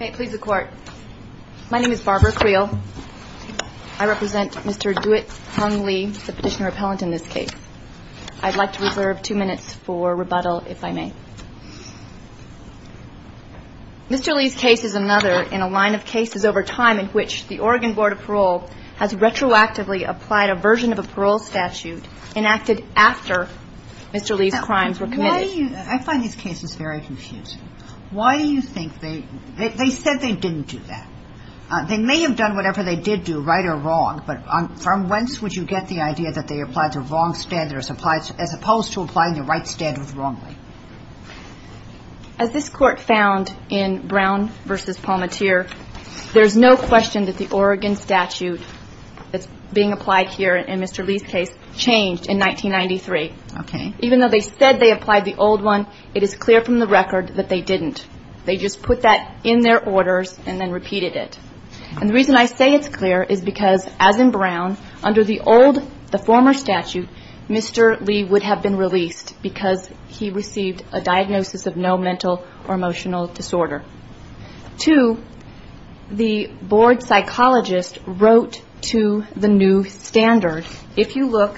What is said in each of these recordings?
May it please the Court. My name is Barbara Creel. I represent Mr. Duet Hung Lee, the petitioner-appellant in this case. I'd like to reserve two minutes for rebuttal, if I may. Mr. Lee's case is another in a line of cases over time in which the Oregon Board of Parole has retroactively applied a version of a parole statute enacted after Mr. Lee's crimes were committed. Why do you, I find these cases very confusing. Why do you think they, they said they didn't do that. They may have done whatever they did do, right or wrong, but from whence would you get the idea that they applied to wrong standards as opposed to applying the right standards wrongly? As this Court found in Brown v. Palmatier, there's no question that the Oregon statute that's being applied here in Mr. Lee's case changed in 1993. Okay. Even though they said they applied the old one, it is clear from the record that they didn't. They just put that in their orders and then repeated it. And the reason I say it's clear is because, as in Brown, under the old, the former statute, Mr. Lee would have been released because he received a diagnosis of no mental or emotional disorder. Two, the board psychologist wrote to the new standard. If you look,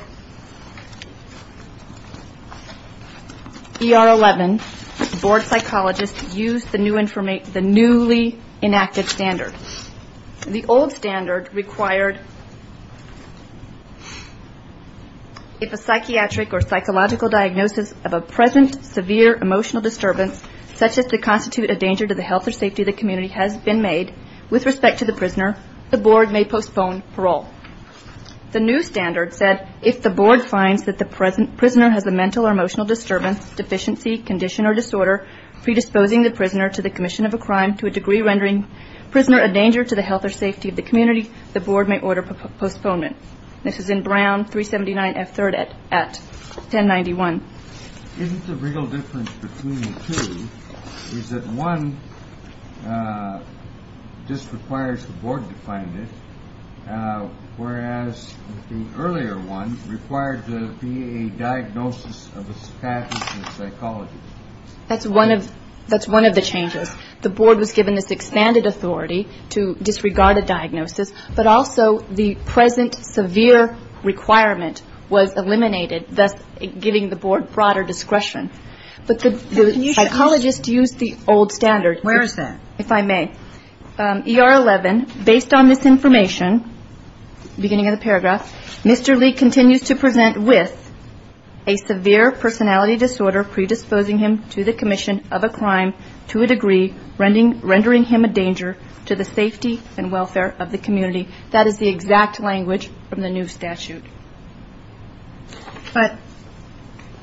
ER 11, the board psychologist used the newly enacted standard. The old standard required, if a psychiatric or psychological diagnosis of a present severe emotional disturbance, such as to constitute a danger to the health or safety of the community, has been made with respect to the prisoner, the board may postpone parole. The new standard said, if the board finds that the prisoner has a mental or emotional disturbance, deficiency, condition, or disorder predisposing the prisoner to the commission of a crime to a degree rendering prisoner a danger to the health or safety of the community, the board may order postponement. This is in Brown 379 F. 3rd at 1091. Isn't the real difference between the two is that one just requires the board to find it, whereas the earlier one required to be a diagnosis of a status of a psychologist? That's one of the changes. The board was given this expanded authority to disregard a diagnosis, but also the present severe requirement was eliminated, thus giving the board broader discretion. But the psychologist used the old standard. Where is that? If I may. ER 11, based on this information, beginning of the paragraph, Mr. Lee continues to present with a severe personality disorder predisposing him to the commission of a crime to a degree rendering him a danger to the safety and welfare of the community. That is the exact language from the new statute. But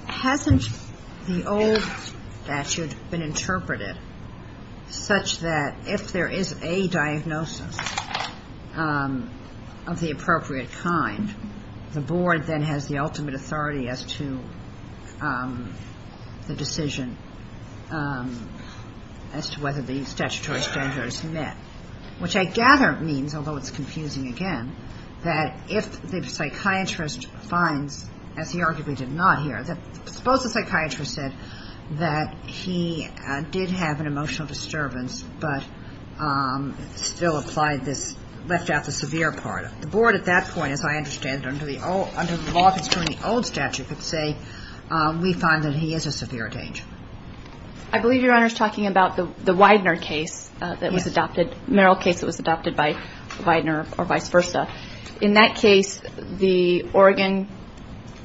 hasn't the old statute been interpreted such that if there is a diagnosis of the appropriate kind, the board then has the ultimate authority as to the decision. As to whether the statutory standard is met. Which I gather means, although it's confusing again, that if the psychiatrist finds, as he arguably did not here, suppose the psychiatrist said that he did have an emotional disturbance, but still applied this, left out the severe part. The board at that point, as I understand it, under the law concerning the old statute could say, we find that he is a severe danger. I believe Your Honor is talking about the Widener case that was adopted, Merrill case that was adopted by Widener or vice versa. In that case, the Oregon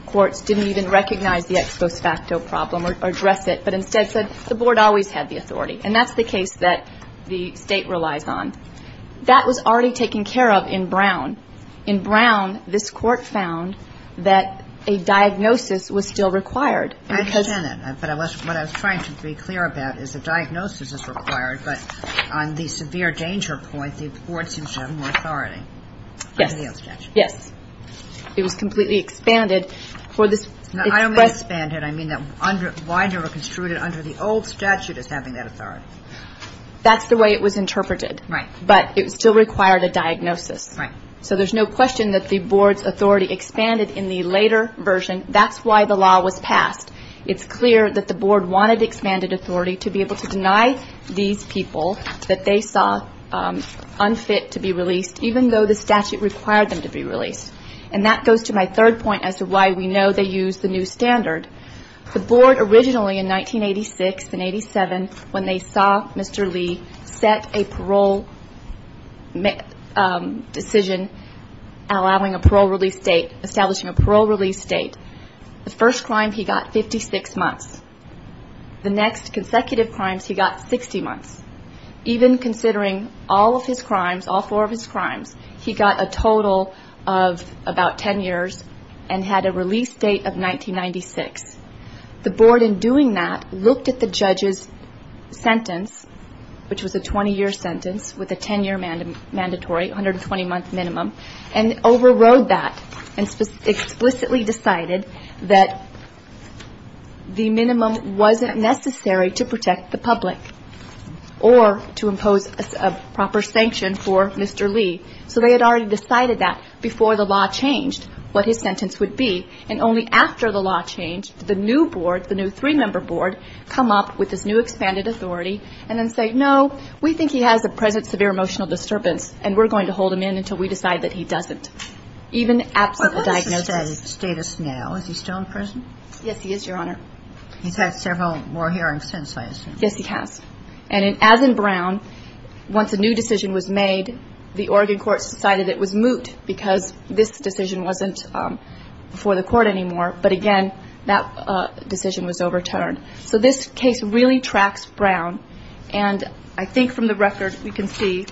courts didn't even recognize the ex post facto problem or address it, but instead said the board always had the authority. And that's the case that the state relies on. That was already taken care of in Brown. In Brown, this court found that a diagnosis was still required. I understand that. But what I was trying to be clear about is a diagnosis is required, but on the severe danger point, the board seems to have more authority. Yes. Under the old statute. Yes. It was completely expanded for this. Now, I don't mean expanded. I mean that Widener were construed under the old statute as having that authority. That's the way it was interpreted. Right. But it still required a diagnosis. Right. So there's no question that the board's authority expanded in the later version. That's why the law was passed. It's clear that the board wanted expanded authority to be able to deny these people that they saw unfit to be released, even though the statute required them to be released. And that goes to my third point as to why we know they used the new standard. The board originally in 1986 and 87, when they saw Mr. Lee set a parole decision allowing a parole release date, the first crime he got 56 months. The next consecutive crimes he got 60 months. Even considering all of his crimes, all four of his crimes, he got a total of about 10 years and had a release date of 1996. The board in doing that looked at the judge's sentence, which was a 20-year sentence with a 10-year mandatory, 120-month minimum, and overrode that and explicitly decided that the minimum wasn't necessary to protect the public or to impose a proper sanction for Mr. Lee. So they had already decided that before the law changed what his sentence would be. And only after the law changed did the new board, the new three-member board, come up with this new expanded authority and then say, no, we think he has a present severe emotional disturbance, and we're going to hold him in until we decide that he doesn't. Even after the diagnosis. But what is his status now? Is he still in prison? Yes, he is, Your Honor. He's had several more hearings since, I assume. Yes, he has. And as in Brown, once a new decision was made, the Oregon courts decided it was moot because this decision wasn't before the court anymore. But again, that decision was overturned. So this case really tracks Brown. And I think from the record we can see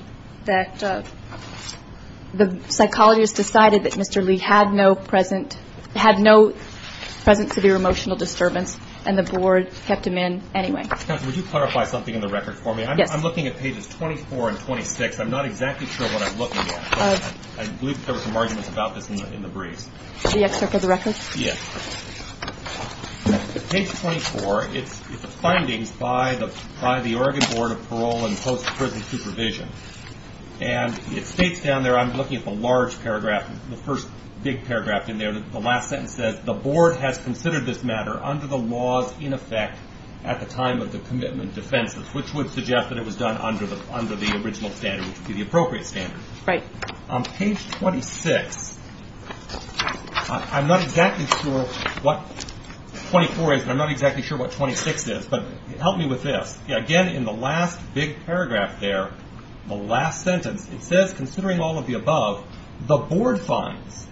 that the psychologists decided that Mr. Lee had no present severe emotional disturbance, and the board kept him in anyway. Counsel, would you clarify something in the record for me? Yes. I'm looking at pages 24 and 26. I'm not exactly sure what I'm looking at. But I believe there were some arguments about this in the briefs. The excerpt of the record? Yes. Page 24, it's the findings by the Oregon Board of Parole and Post-Prison Supervision. And it states down there, I'm looking at the large paragraph, the first big paragraph in there, the last sentence says, the board has considered this matter under the laws in effect at the time of the commitment defenses, which would suggest that it was done under the original standard, which would be the appropriate standard. Right. On page 26, I'm not exactly sure what 24 is, and I'm not exactly sure what 26 is, but help me with this. Again, in the last big paragraph there, the last sentence, it says, considering all of the above, the board finds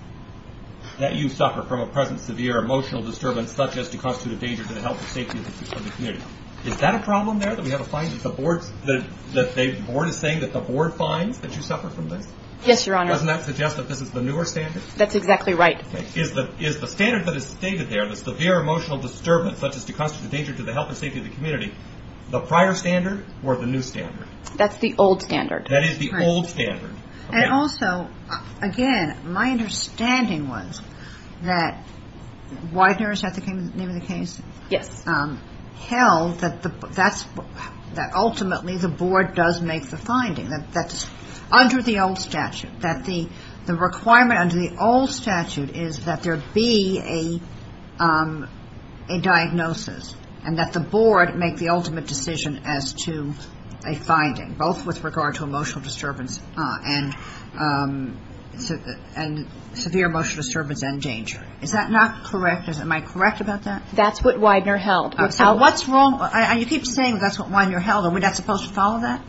that you suffer from a present severe emotional disturbance such as to constitute a danger to the health and safety of the community. Is that a problem there, that we have a finding that the board is saying that the board finds that you suffer from this? Yes, Your Honor. Doesn't that suggest that this is the newer standard? That's exactly right. Is the standard that is stated there, the severe emotional disturbance such as to constitute a danger to the health and safety of the community, the prior standard or the new standard? That's the old standard. That is the old standard. And also, again, my understanding was that Widener, is that the name of the case? Yes. The board has held that ultimately the board does make the finding, that under the old statute, that the requirement under the old statute is that there be a diagnosis, and that the board make the ultimate decision as to a finding, both with regard to emotional disturbance and severe emotional disturbance and danger. Is that not correct? Am I correct about that? That's what Widener held. So what's wrong? And you keep saying that's what Widener held. Are we not supposed to follow that?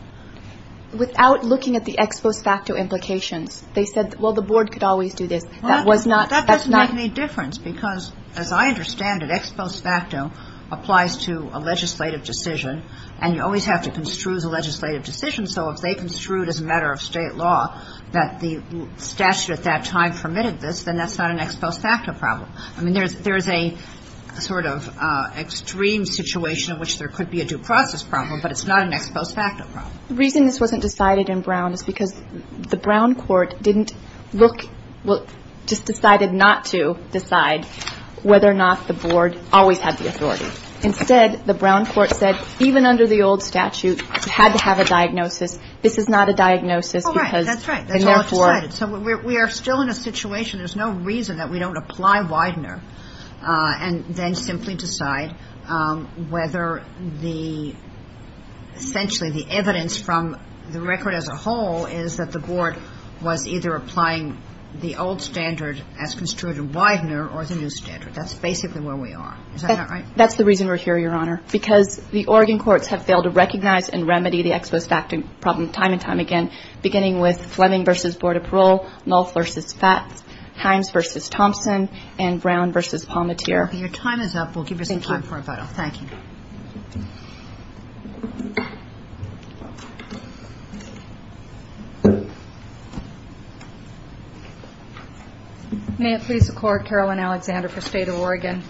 Without looking at the ex post facto implications, they said, well, the board could always do this. That was not, that's not. Well, that doesn't make any difference, because as I understand it, ex post facto applies to a legislative decision, and you always have to construe the legislative decision. So if they construed as a matter of state law that the statute at that time permitted this, then that's not an ex post facto problem. I mean, there's a sort of extreme situation in which there could be a due process problem, but it's not an ex post facto problem. The reason this wasn't decided in Brown is because the Brown court didn't look, well, just decided not to decide whether or not the board always had the authority. Instead, the Brown court said even under the old statute, it had to have a diagnosis. This is not a diagnosis because the board decided. So we are still in a situation, there's no reason that we don't apply Widener and then simply decide whether the, essentially the evidence from the record as a whole is that the board was either applying the old standard as construed in Widener or the new standard. That's basically where we are. Is that not right? That's the reason we're here, Your Honor, because the Oregon courts have failed to recognize and remedy the ex post facto problem time and time again, beginning with Fleming v. Board of Parole, Nolth v. Fats, Himes v. Thompson, and Brown v. Palmateer. Your time is up. We'll give you some time for a vote. Thank you. May it please the Court, Carolyn Alexander for State of Oregon.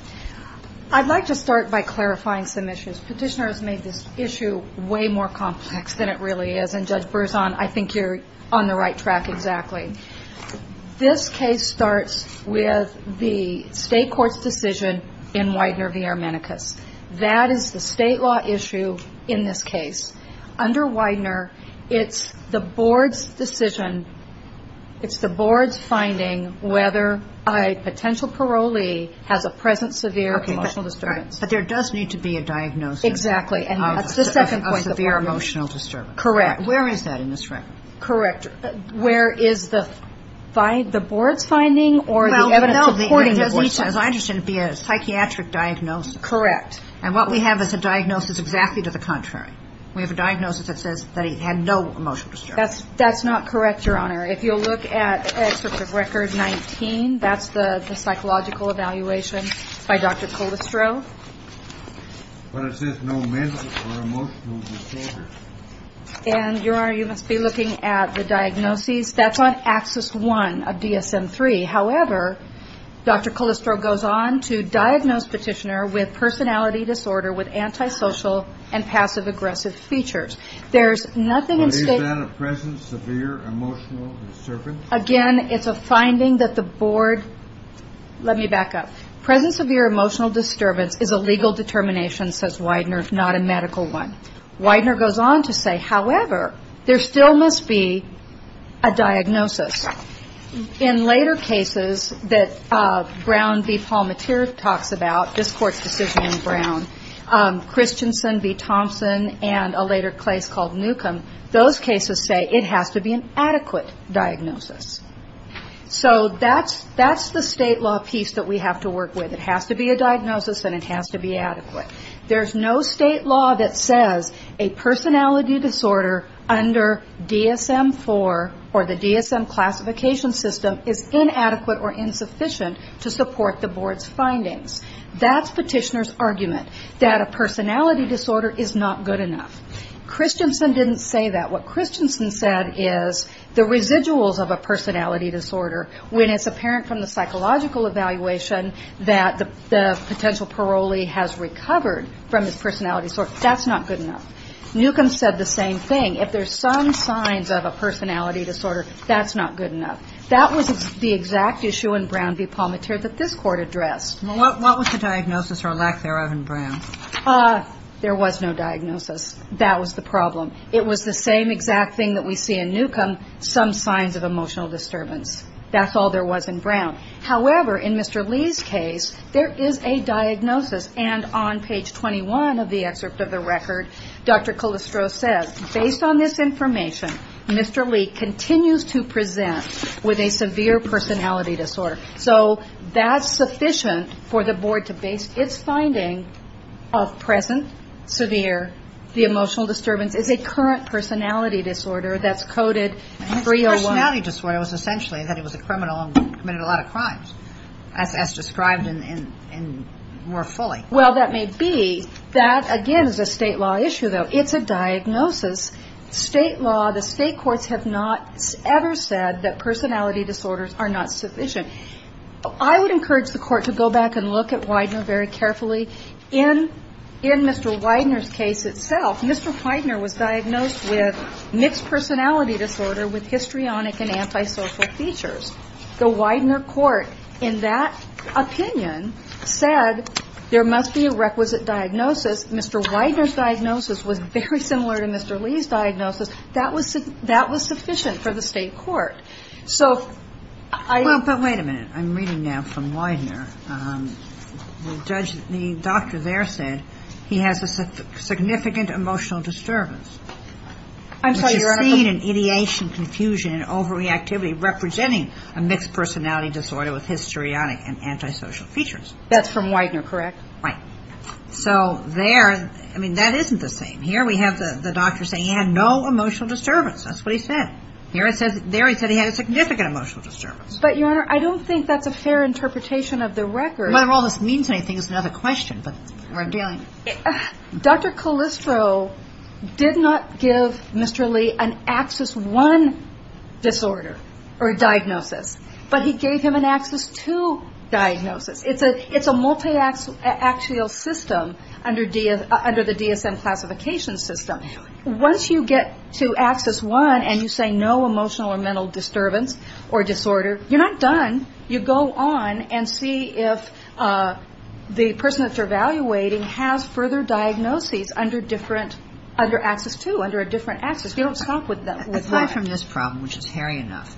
I'd like to start by clarifying some issues. Petitioner has made this issue way more complex than it really is. And Judge Berzon, I think you're on the right track exactly. This case starts with the state court's decision in Widener v. Armenicus. That is the state law issue in this case. Under Widener, it's the board's decision, it's the board's finding whether a potential parolee has a present severe emotional disturbance. But there does need to be a diagnosis of a severe emotional disturbance. Correct. Where is that in this record? Where is the board's finding or the evidence supporting the board's finding? As I understand, it would be a psychiatric diagnosis. Correct. And what we have is a diagnosis exactly to the contrary. We have a diagnosis that says that he had no emotional disturbance. That's not correct, Your Honor. If you'll look at Excerpt of Record 19, that's the psychological evaluation by Dr. Colistro. But it says no mental or emotional disorder. And, Your Honor, you must be looking at the diagnoses. That's on Axis 1 of DSM 3. However, Dr. Colistro goes on to diagnose Petitioner with personality disorder with present severe emotional disturbance. Again, it's a finding that the board let me back up. Present severe emotional disturbance is a legal determination, says Widener, not a medical one. Widener goes on to say, however, there still must be a diagnosis. In later cases that Brown v. Palmatier talks about, this Court's decision in Brown, Christensen v. Thompson and a later case called Newcomb, those cases say it has to be an adequate diagnosis. So that's the state law piece that we have to work with. It has to be a diagnosis and it has to be adequate. There's no state law that says a personality disorder under DSM 4 or the DSM classification system is inadequate or a personality disorder is not good enough. Christensen didn't say that. What Christensen said is the residuals of a personality disorder, when it's apparent from the psychological evaluation that the potential parolee has recovered from his personality disorder, that's not good enough. Newcomb said the same thing. If there's some signs of a personality disorder, that's not good enough. That was the exact issue in Brown v. Palmatier. There was no diagnosis. That was the problem. It was the same exact thing that we see in Newcomb, some signs of emotional disturbance. That's all there was in Brown. However, in Mr. Lee's case, there is a diagnosis. And on page 21 of the excerpt of the record, Dr. Calistro says, based on this information, Mr. Lee continues to present with a severe personality disorder. So that's sufficient for the board to base its finding of present, severe, the emotional disturbance is a current personality disorder that's coded 301. Well, that may be. That, again, is a state law issue, though. It's a diagnosis. State law, the case itself, Mr. Widener was diagnosed with mixed personality disorder with histrionic and antisocial features. The Widener court, in that opinion, said there must be a requisite diagnosis. Mr. Widener's diagnosis was very similar to Mr. Lee's diagnosis. That was sufficient for the state court. I'm reading now from Widener. The doctor there said he has a significant emotional disturbance. I'm sorry, Your Honor. That's from Widener, correct? Right. So there, I mean, that isn't the same. Here we have the doctor saying he had no emotional disturbance. But, Your Honor, I don't think that's a fair interpretation of the record. Whether all this means anything is another question, but we're dealing with it. Dr. Calistro did not give Mr. Lee an Axis I disorder or diagnosis, but he gave him an Axis II diagnosis. It's a multiaxial system under the DSM classification system. Once you get to Axis I and you say no emotional or mental disturbance or disorder, you're not done. You go on and see if the person that you're evaluating has further diagnoses under different, under Axis II, under a different Axis. You don't stop with that. Aside from this problem, which is hairy enough,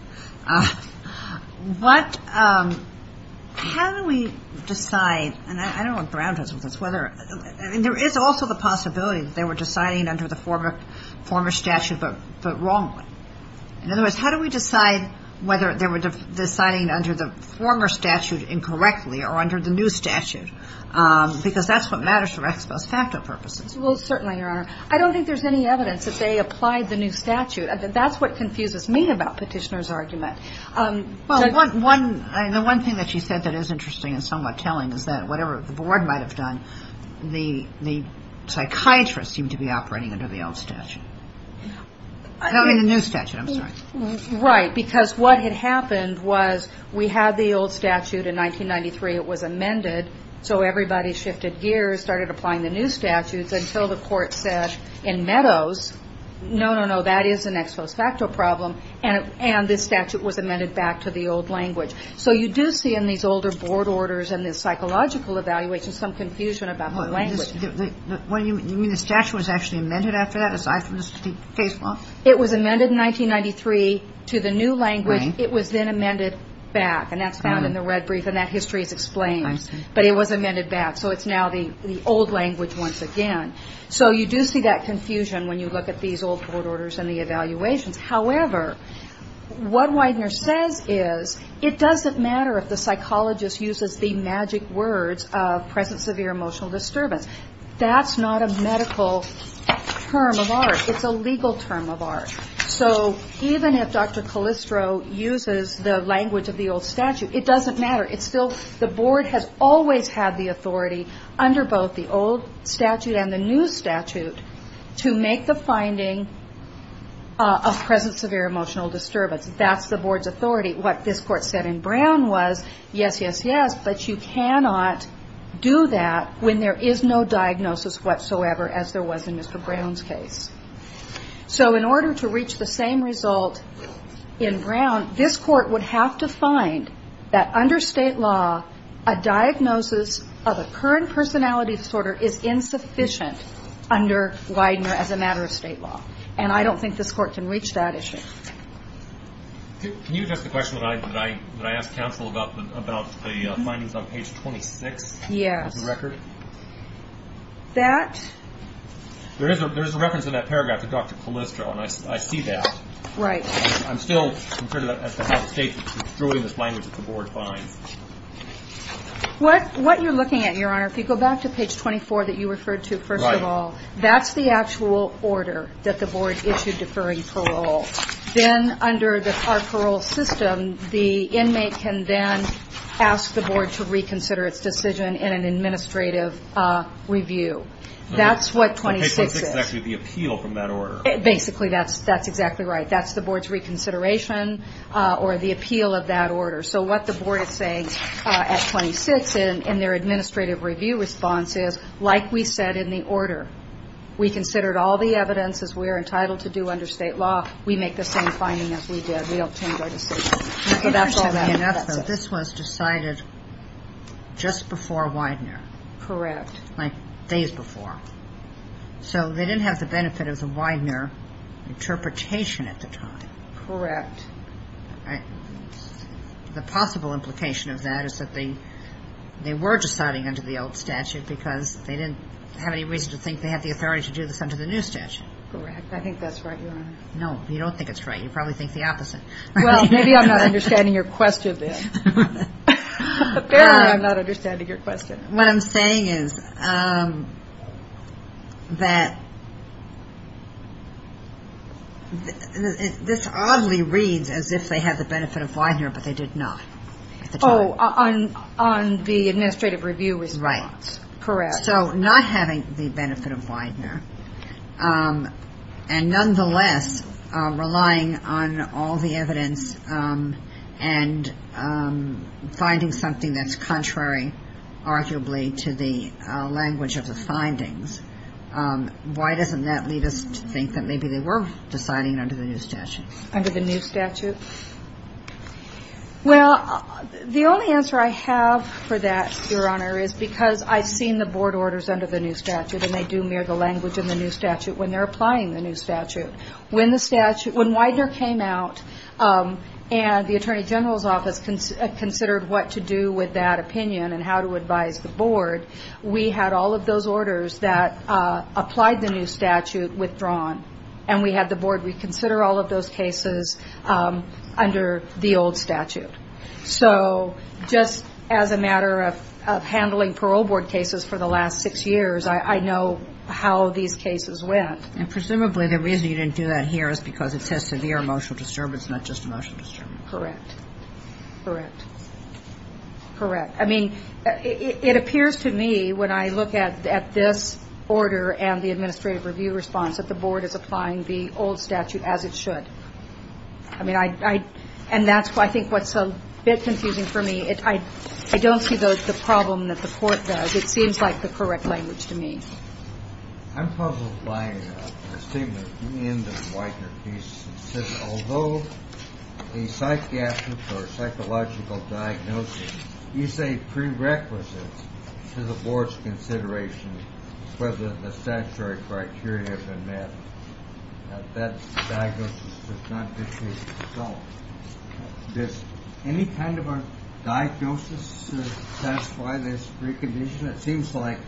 what, how do we decide, and I don't want grounders with this, whether, I mean, there is also the possibility that they were deciding under the former statute, but wrongly. In other words, how do we decide whether they were deciding under the former statute incorrectly or under the new statute? Because that's what matters for ex post facto purposes. Well, certainly, Your Honor. I don't think there's any evidence that they applied the new statute. That's what confuses me about Petitioner's argument. The one thing that she said that is interesting and somewhat telling is that whatever the board might have done, the psychiatrist seemed to be operating under the old statute. I mean the new statute, I'm sorry. Right, because what had happened was we had the old statute in 1993. It was amended. So everybody shifted gears, started applying the new statutes until the court said in Meadows, no, no, no, that is an ex post facto problem, and this statute was amended back to the old language. So you do see in these older board orders and the psychological evaluations some confusion about the language. What do you mean? The statute was actually amended after that, aside from the state case law? It was amended in 1993 to the new language. It was then amended back, and that's found in the red brief, and that history is explained, but it was amended back, so it's now the old language once again. So you do see that confusion when you look at these old board orders and the evaluations. However, what Widener says is it doesn't matter if the psychologist uses the magic words of present severe emotional disturbance. That's not a medical term of art. It's a legal term of art. So even if Dr. Callistro uses the language of the old statute, it doesn't matter. Still, the board has always had the authority under both the old statute and the new statute to make the finding of present severe emotional disturbance. That's the board's authority. What this court said in Brown was yes, yes, yes, but you cannot do that when there is no diagnosis whatsoever as there was in Mr. Brown's case. So in order to reach the same result in Brown, this court would have to find that under state law, a diagnosis of a current personality disorder is insufficient under Widener as a matter of state law, and I don't think this court can reach that issue. Can you address the question that I asked counsel about the findings on page 26? Yes. There is a reference in that paragraph to Dr. Callistro, and I see that. Right. What you're looking at, Your Honor, if you go back to page 24 that you referred to first of all, that's the actual order that the board issued deferring parole. Then under our parole system, the inmate can then ask the board to reconsider its decision in an administrative review. That's what 26 is. That's actually the appeal from that order. Basically, that's exactly right. That's the board's reconsideration or the appeal of that order. So what the board is saying at 26 in their administrative review response is, like we said in the order, we considered all the evidence as we are entitled to do under state law. We make the same finding as we did. We don't change our decision. It's interesting enough that this was decided just before Widener. Correct. Like days before. So they didn't have the benefit of the Widener interpretation at the time. Correct. The possible implication of that is that they were deciding under the old statute because they didn't have any reason to think they had the authority to do this under the new statute. Correct. I think that's right, Your Honor. No, you don't think it's right. You probably think the opposite. Well, maybe I'm not understanding your question, then. Apparently I'm not understanding your question. What I'm saying is that this oddly reads as if they had the benefit of Widener, but they did not. Oh, on the administrative review response. Correct. So not having the benefit of Widener, and nonetheless relying on all the evidence and finding something that's contrary, arguably, to the language of the findings, why doesn't that lead us to think that maybe they were deciding under the new statute? Well, the only answer I have for that, Your Honor, is because I've seen the board orders under the new statute, and they do mirror the language in the new statute when they're applying the new statute. When Widener came out and the Attorney General's office considered what to do with that opinion and how to advise the board, we had all of those orders that applied the new statute withdrawn. And we had the board reconsider all of those cases under the old statute. So just as a matter of handling parole board cases for the last six years, I know how these cases went. And presumably the reason you didn't do that here is because it says severe emotional disturbance, not just emotional disturbance. Correct. Correct. I mean, it appears to me when I look at this order and the administrative review response that the board is applying the old statute as it should. And that's, I think, what's a bit confusing for me. I don't see the problem that the court does. It seems like the correct language to me. I'm puzzled by a statement in the Widener case that says although a psychiatric or psychological diagnosis is a prerequisite to the board's consideration whether the statutory criteria have been met, that diagnosis does not dispute itself. Does any kind of a diagnosis satisfy this precondition? It seems like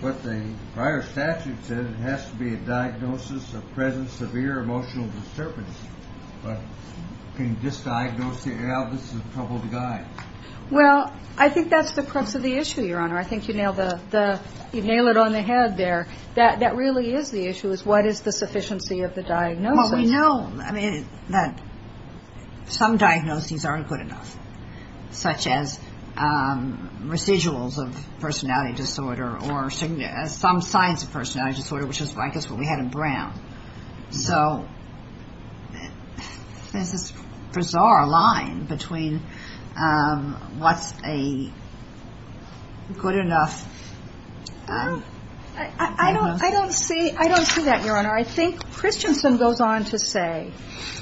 what the prior statute said, it has to be a diagnosis of present severe emotional disturbance. But can you just diagnose it? Well, I think that's the crux of the issue, Your Honor. I think you've nailed it on the head there. That really is the issue is what is the sufficiency of the diagnosis. Well, we know that some diagnoses aren't good enough, such as residuals of personality disorder or some signs of personality disorder, which is, I guess, what we had in Brown. So there's this bizarre line between what's a good enough diagnosis. I don't see that, Your Honor. I think Christiansen goes on to say,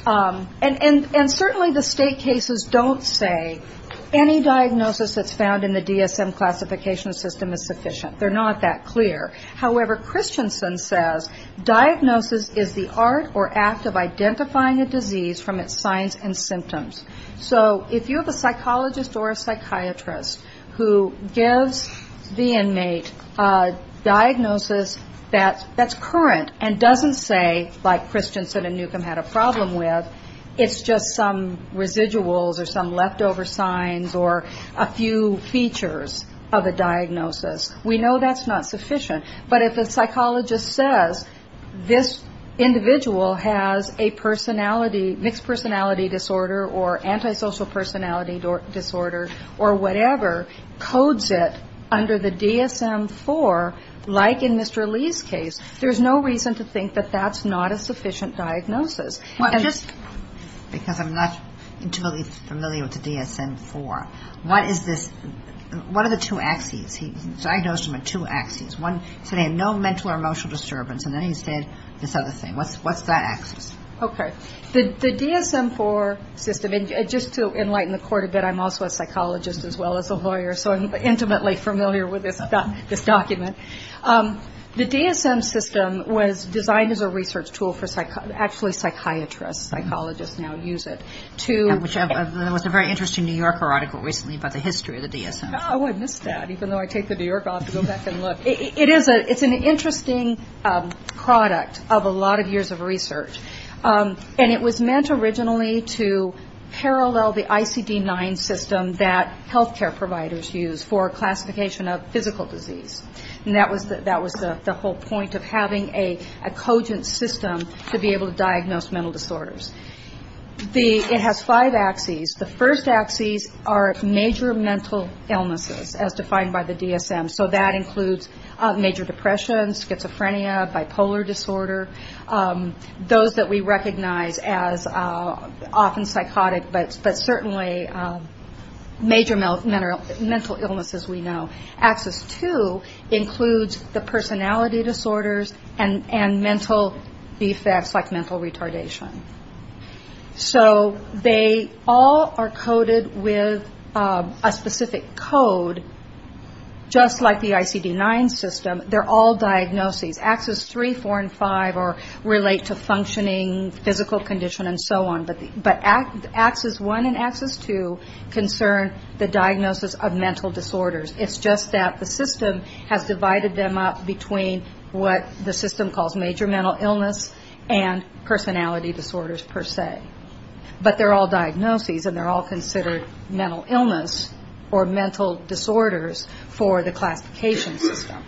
and certainly the State cases don't say any diagnosis that's found in the DSM classification system is sufficient. They're not that clear. However, Christiansen says diagnosis is the art or act of identifying a disease from its signs and symptoms. So if you have a psychologist or a psychiatrist who gives the inmate a diagnosis that's current and doesn't say, like Christiansen and Newcomb had a problem with, it's just some residuals or some leftover signs or a few features of a diagnosis, we know that's not sufficient. But if a psychologist says this individual has a personality, mixed personality disorder or antisocial personality disorder or whatever, codes it under the DSM-IV, like in Mr. Lee's case, there's no reason to think that that's not a sufficient diagnosis. Because I'm not totally familiar with the DSM-IV. What is this, what are the two axes? He diagnosed him with two axes. One, he said he had no mental or emotional disturbance, and then he said this other thing. What's that axis? Okay. The DSM-IV system, and just to enlighten the court a bit, I'm also a psychologist as well as a lawyer, so I'm intimately familiar with this document. The DSM system was designed as a research tool for actually psychiatrists. Psychologists now use it to... There was a very interesting New Yorker article recently about the history of the DSM. Oh, I missed that, even though I take the New Yorker off to go back and look. It's an interesting product of a lot of years of research. And it was meant originally to parallel the ICD-9 system that healthcare providers use for classification of physical disease. And that was the whole point of having a cogent system to be able to diagnose mental disorders. It has five axes. The first axes are major mental illnesses, as defined by the DSM. So that includes major depression, schizophrenia, bipolar disorder, those that we recognize as often psychotic, but certainly major mental illnesses we know. Axis 2 includes the personality disorders and mental defects like mental retardation. So they all are coded with a specific code, just like the ICD-9 system. They're all diagnoses. Axis 3, 4, and 5 relate to functioning, physical condition, and so on. But axis 1 and axis 2 concern the diagnosis of mental disorders. It's just that the system has divided them up between what the system calls major mental illness and personality disorders per se. But they're all diagnoses and they're all considered mental illness or mental disorders for the classification system.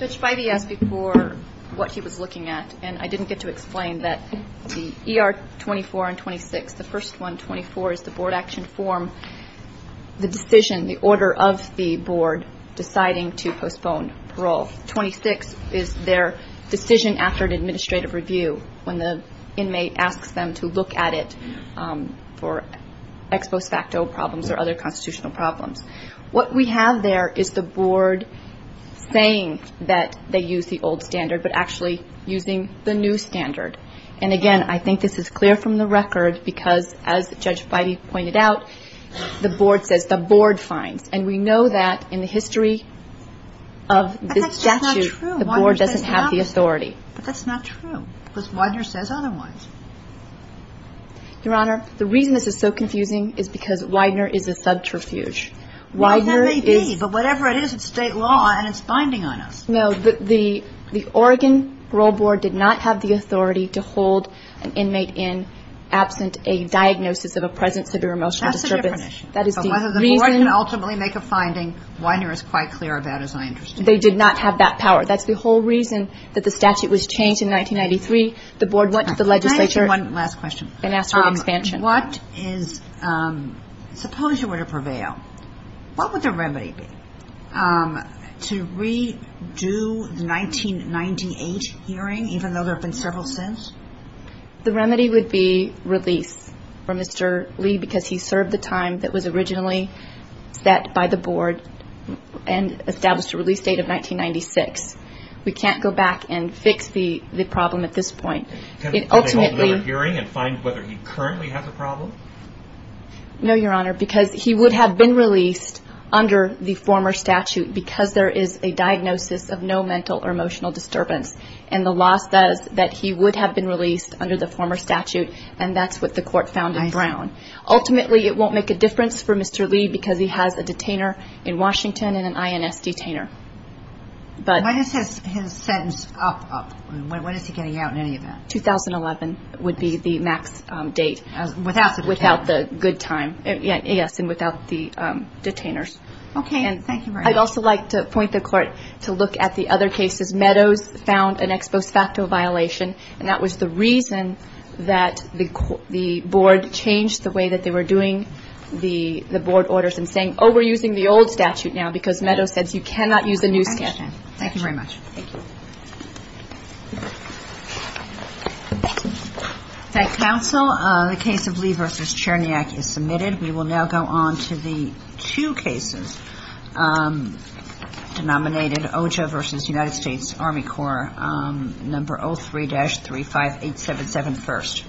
Judge Feige asked before what he was looking at, and I didn't get to explain that the ER 24 and 26, the first one, 24, is the board action form, the decision, the order of the board deciding to postpone parole. 26 is their decision after an administrative review, when the inmate asks them to look at it for ex post facto problems or other constitutional problems. What we have there is the board saying that they use the old standard, but actually using the new standard. And, again, I think this is clear from the record because, as Judge Feige pointed out, the board says the board finds. And we know that in the history of this statute, the board doesn't have the authority. But that's not true because Widener says otherwise. Your Honor, the reason this is so confusing is because Widener is a subterfuge. Well, that may be, but whatever it is, it's state law and it's binding on us. No, the Oregon parole board did not have the authority to hold an inmate in absent a diagnosis of a present severe emotional disturbance. That's a different issue. That is the reason. So whether the board can ultimately make a finding, Widener is quite clear about, as I understand. They did not have that power. That's the whole reason that the statute was changed in 1993. The board went to the legislature and asked for expansion. Can I ask you one last question? Suppose you were to prevail. What would the remedy be to redo the 1998 hearing, even though there have been several since? The remedy would be release for Mr. Lee because he served the time that was originally set by the board and established a release date of 1996. We can't go back and fix the problem at this point. Can they hold another hearing and find whether he currently has a problem? No, Your Honor, because he would have been released under the former statute because there is a diagnosis of no mental or emotional disturbance and the law says that he would have been released under the former statute and that's what the court found in Brown. Ultimately, it won't make a difference for Mr. Lee because he has a detainer in Washington and an INS detainer. What is his sentence up? What is he getting out in any event? 2011 would be the max date without the good time, yes, and without the detainers. I'd also like to point the court to look at the other cases. Meadows found an ex post facto violation and that was the reason that the board changed the way that they were doing the board orders and saying, oh, we're using the old statute now because Meadows said you cannot use the new statute. Thank you very much. Thank you. Counsel, the case of Lee versus Cherniak is submitted. We will now go on to the two cases denominated OJA versus United States Army Corps, number 03-35877 first.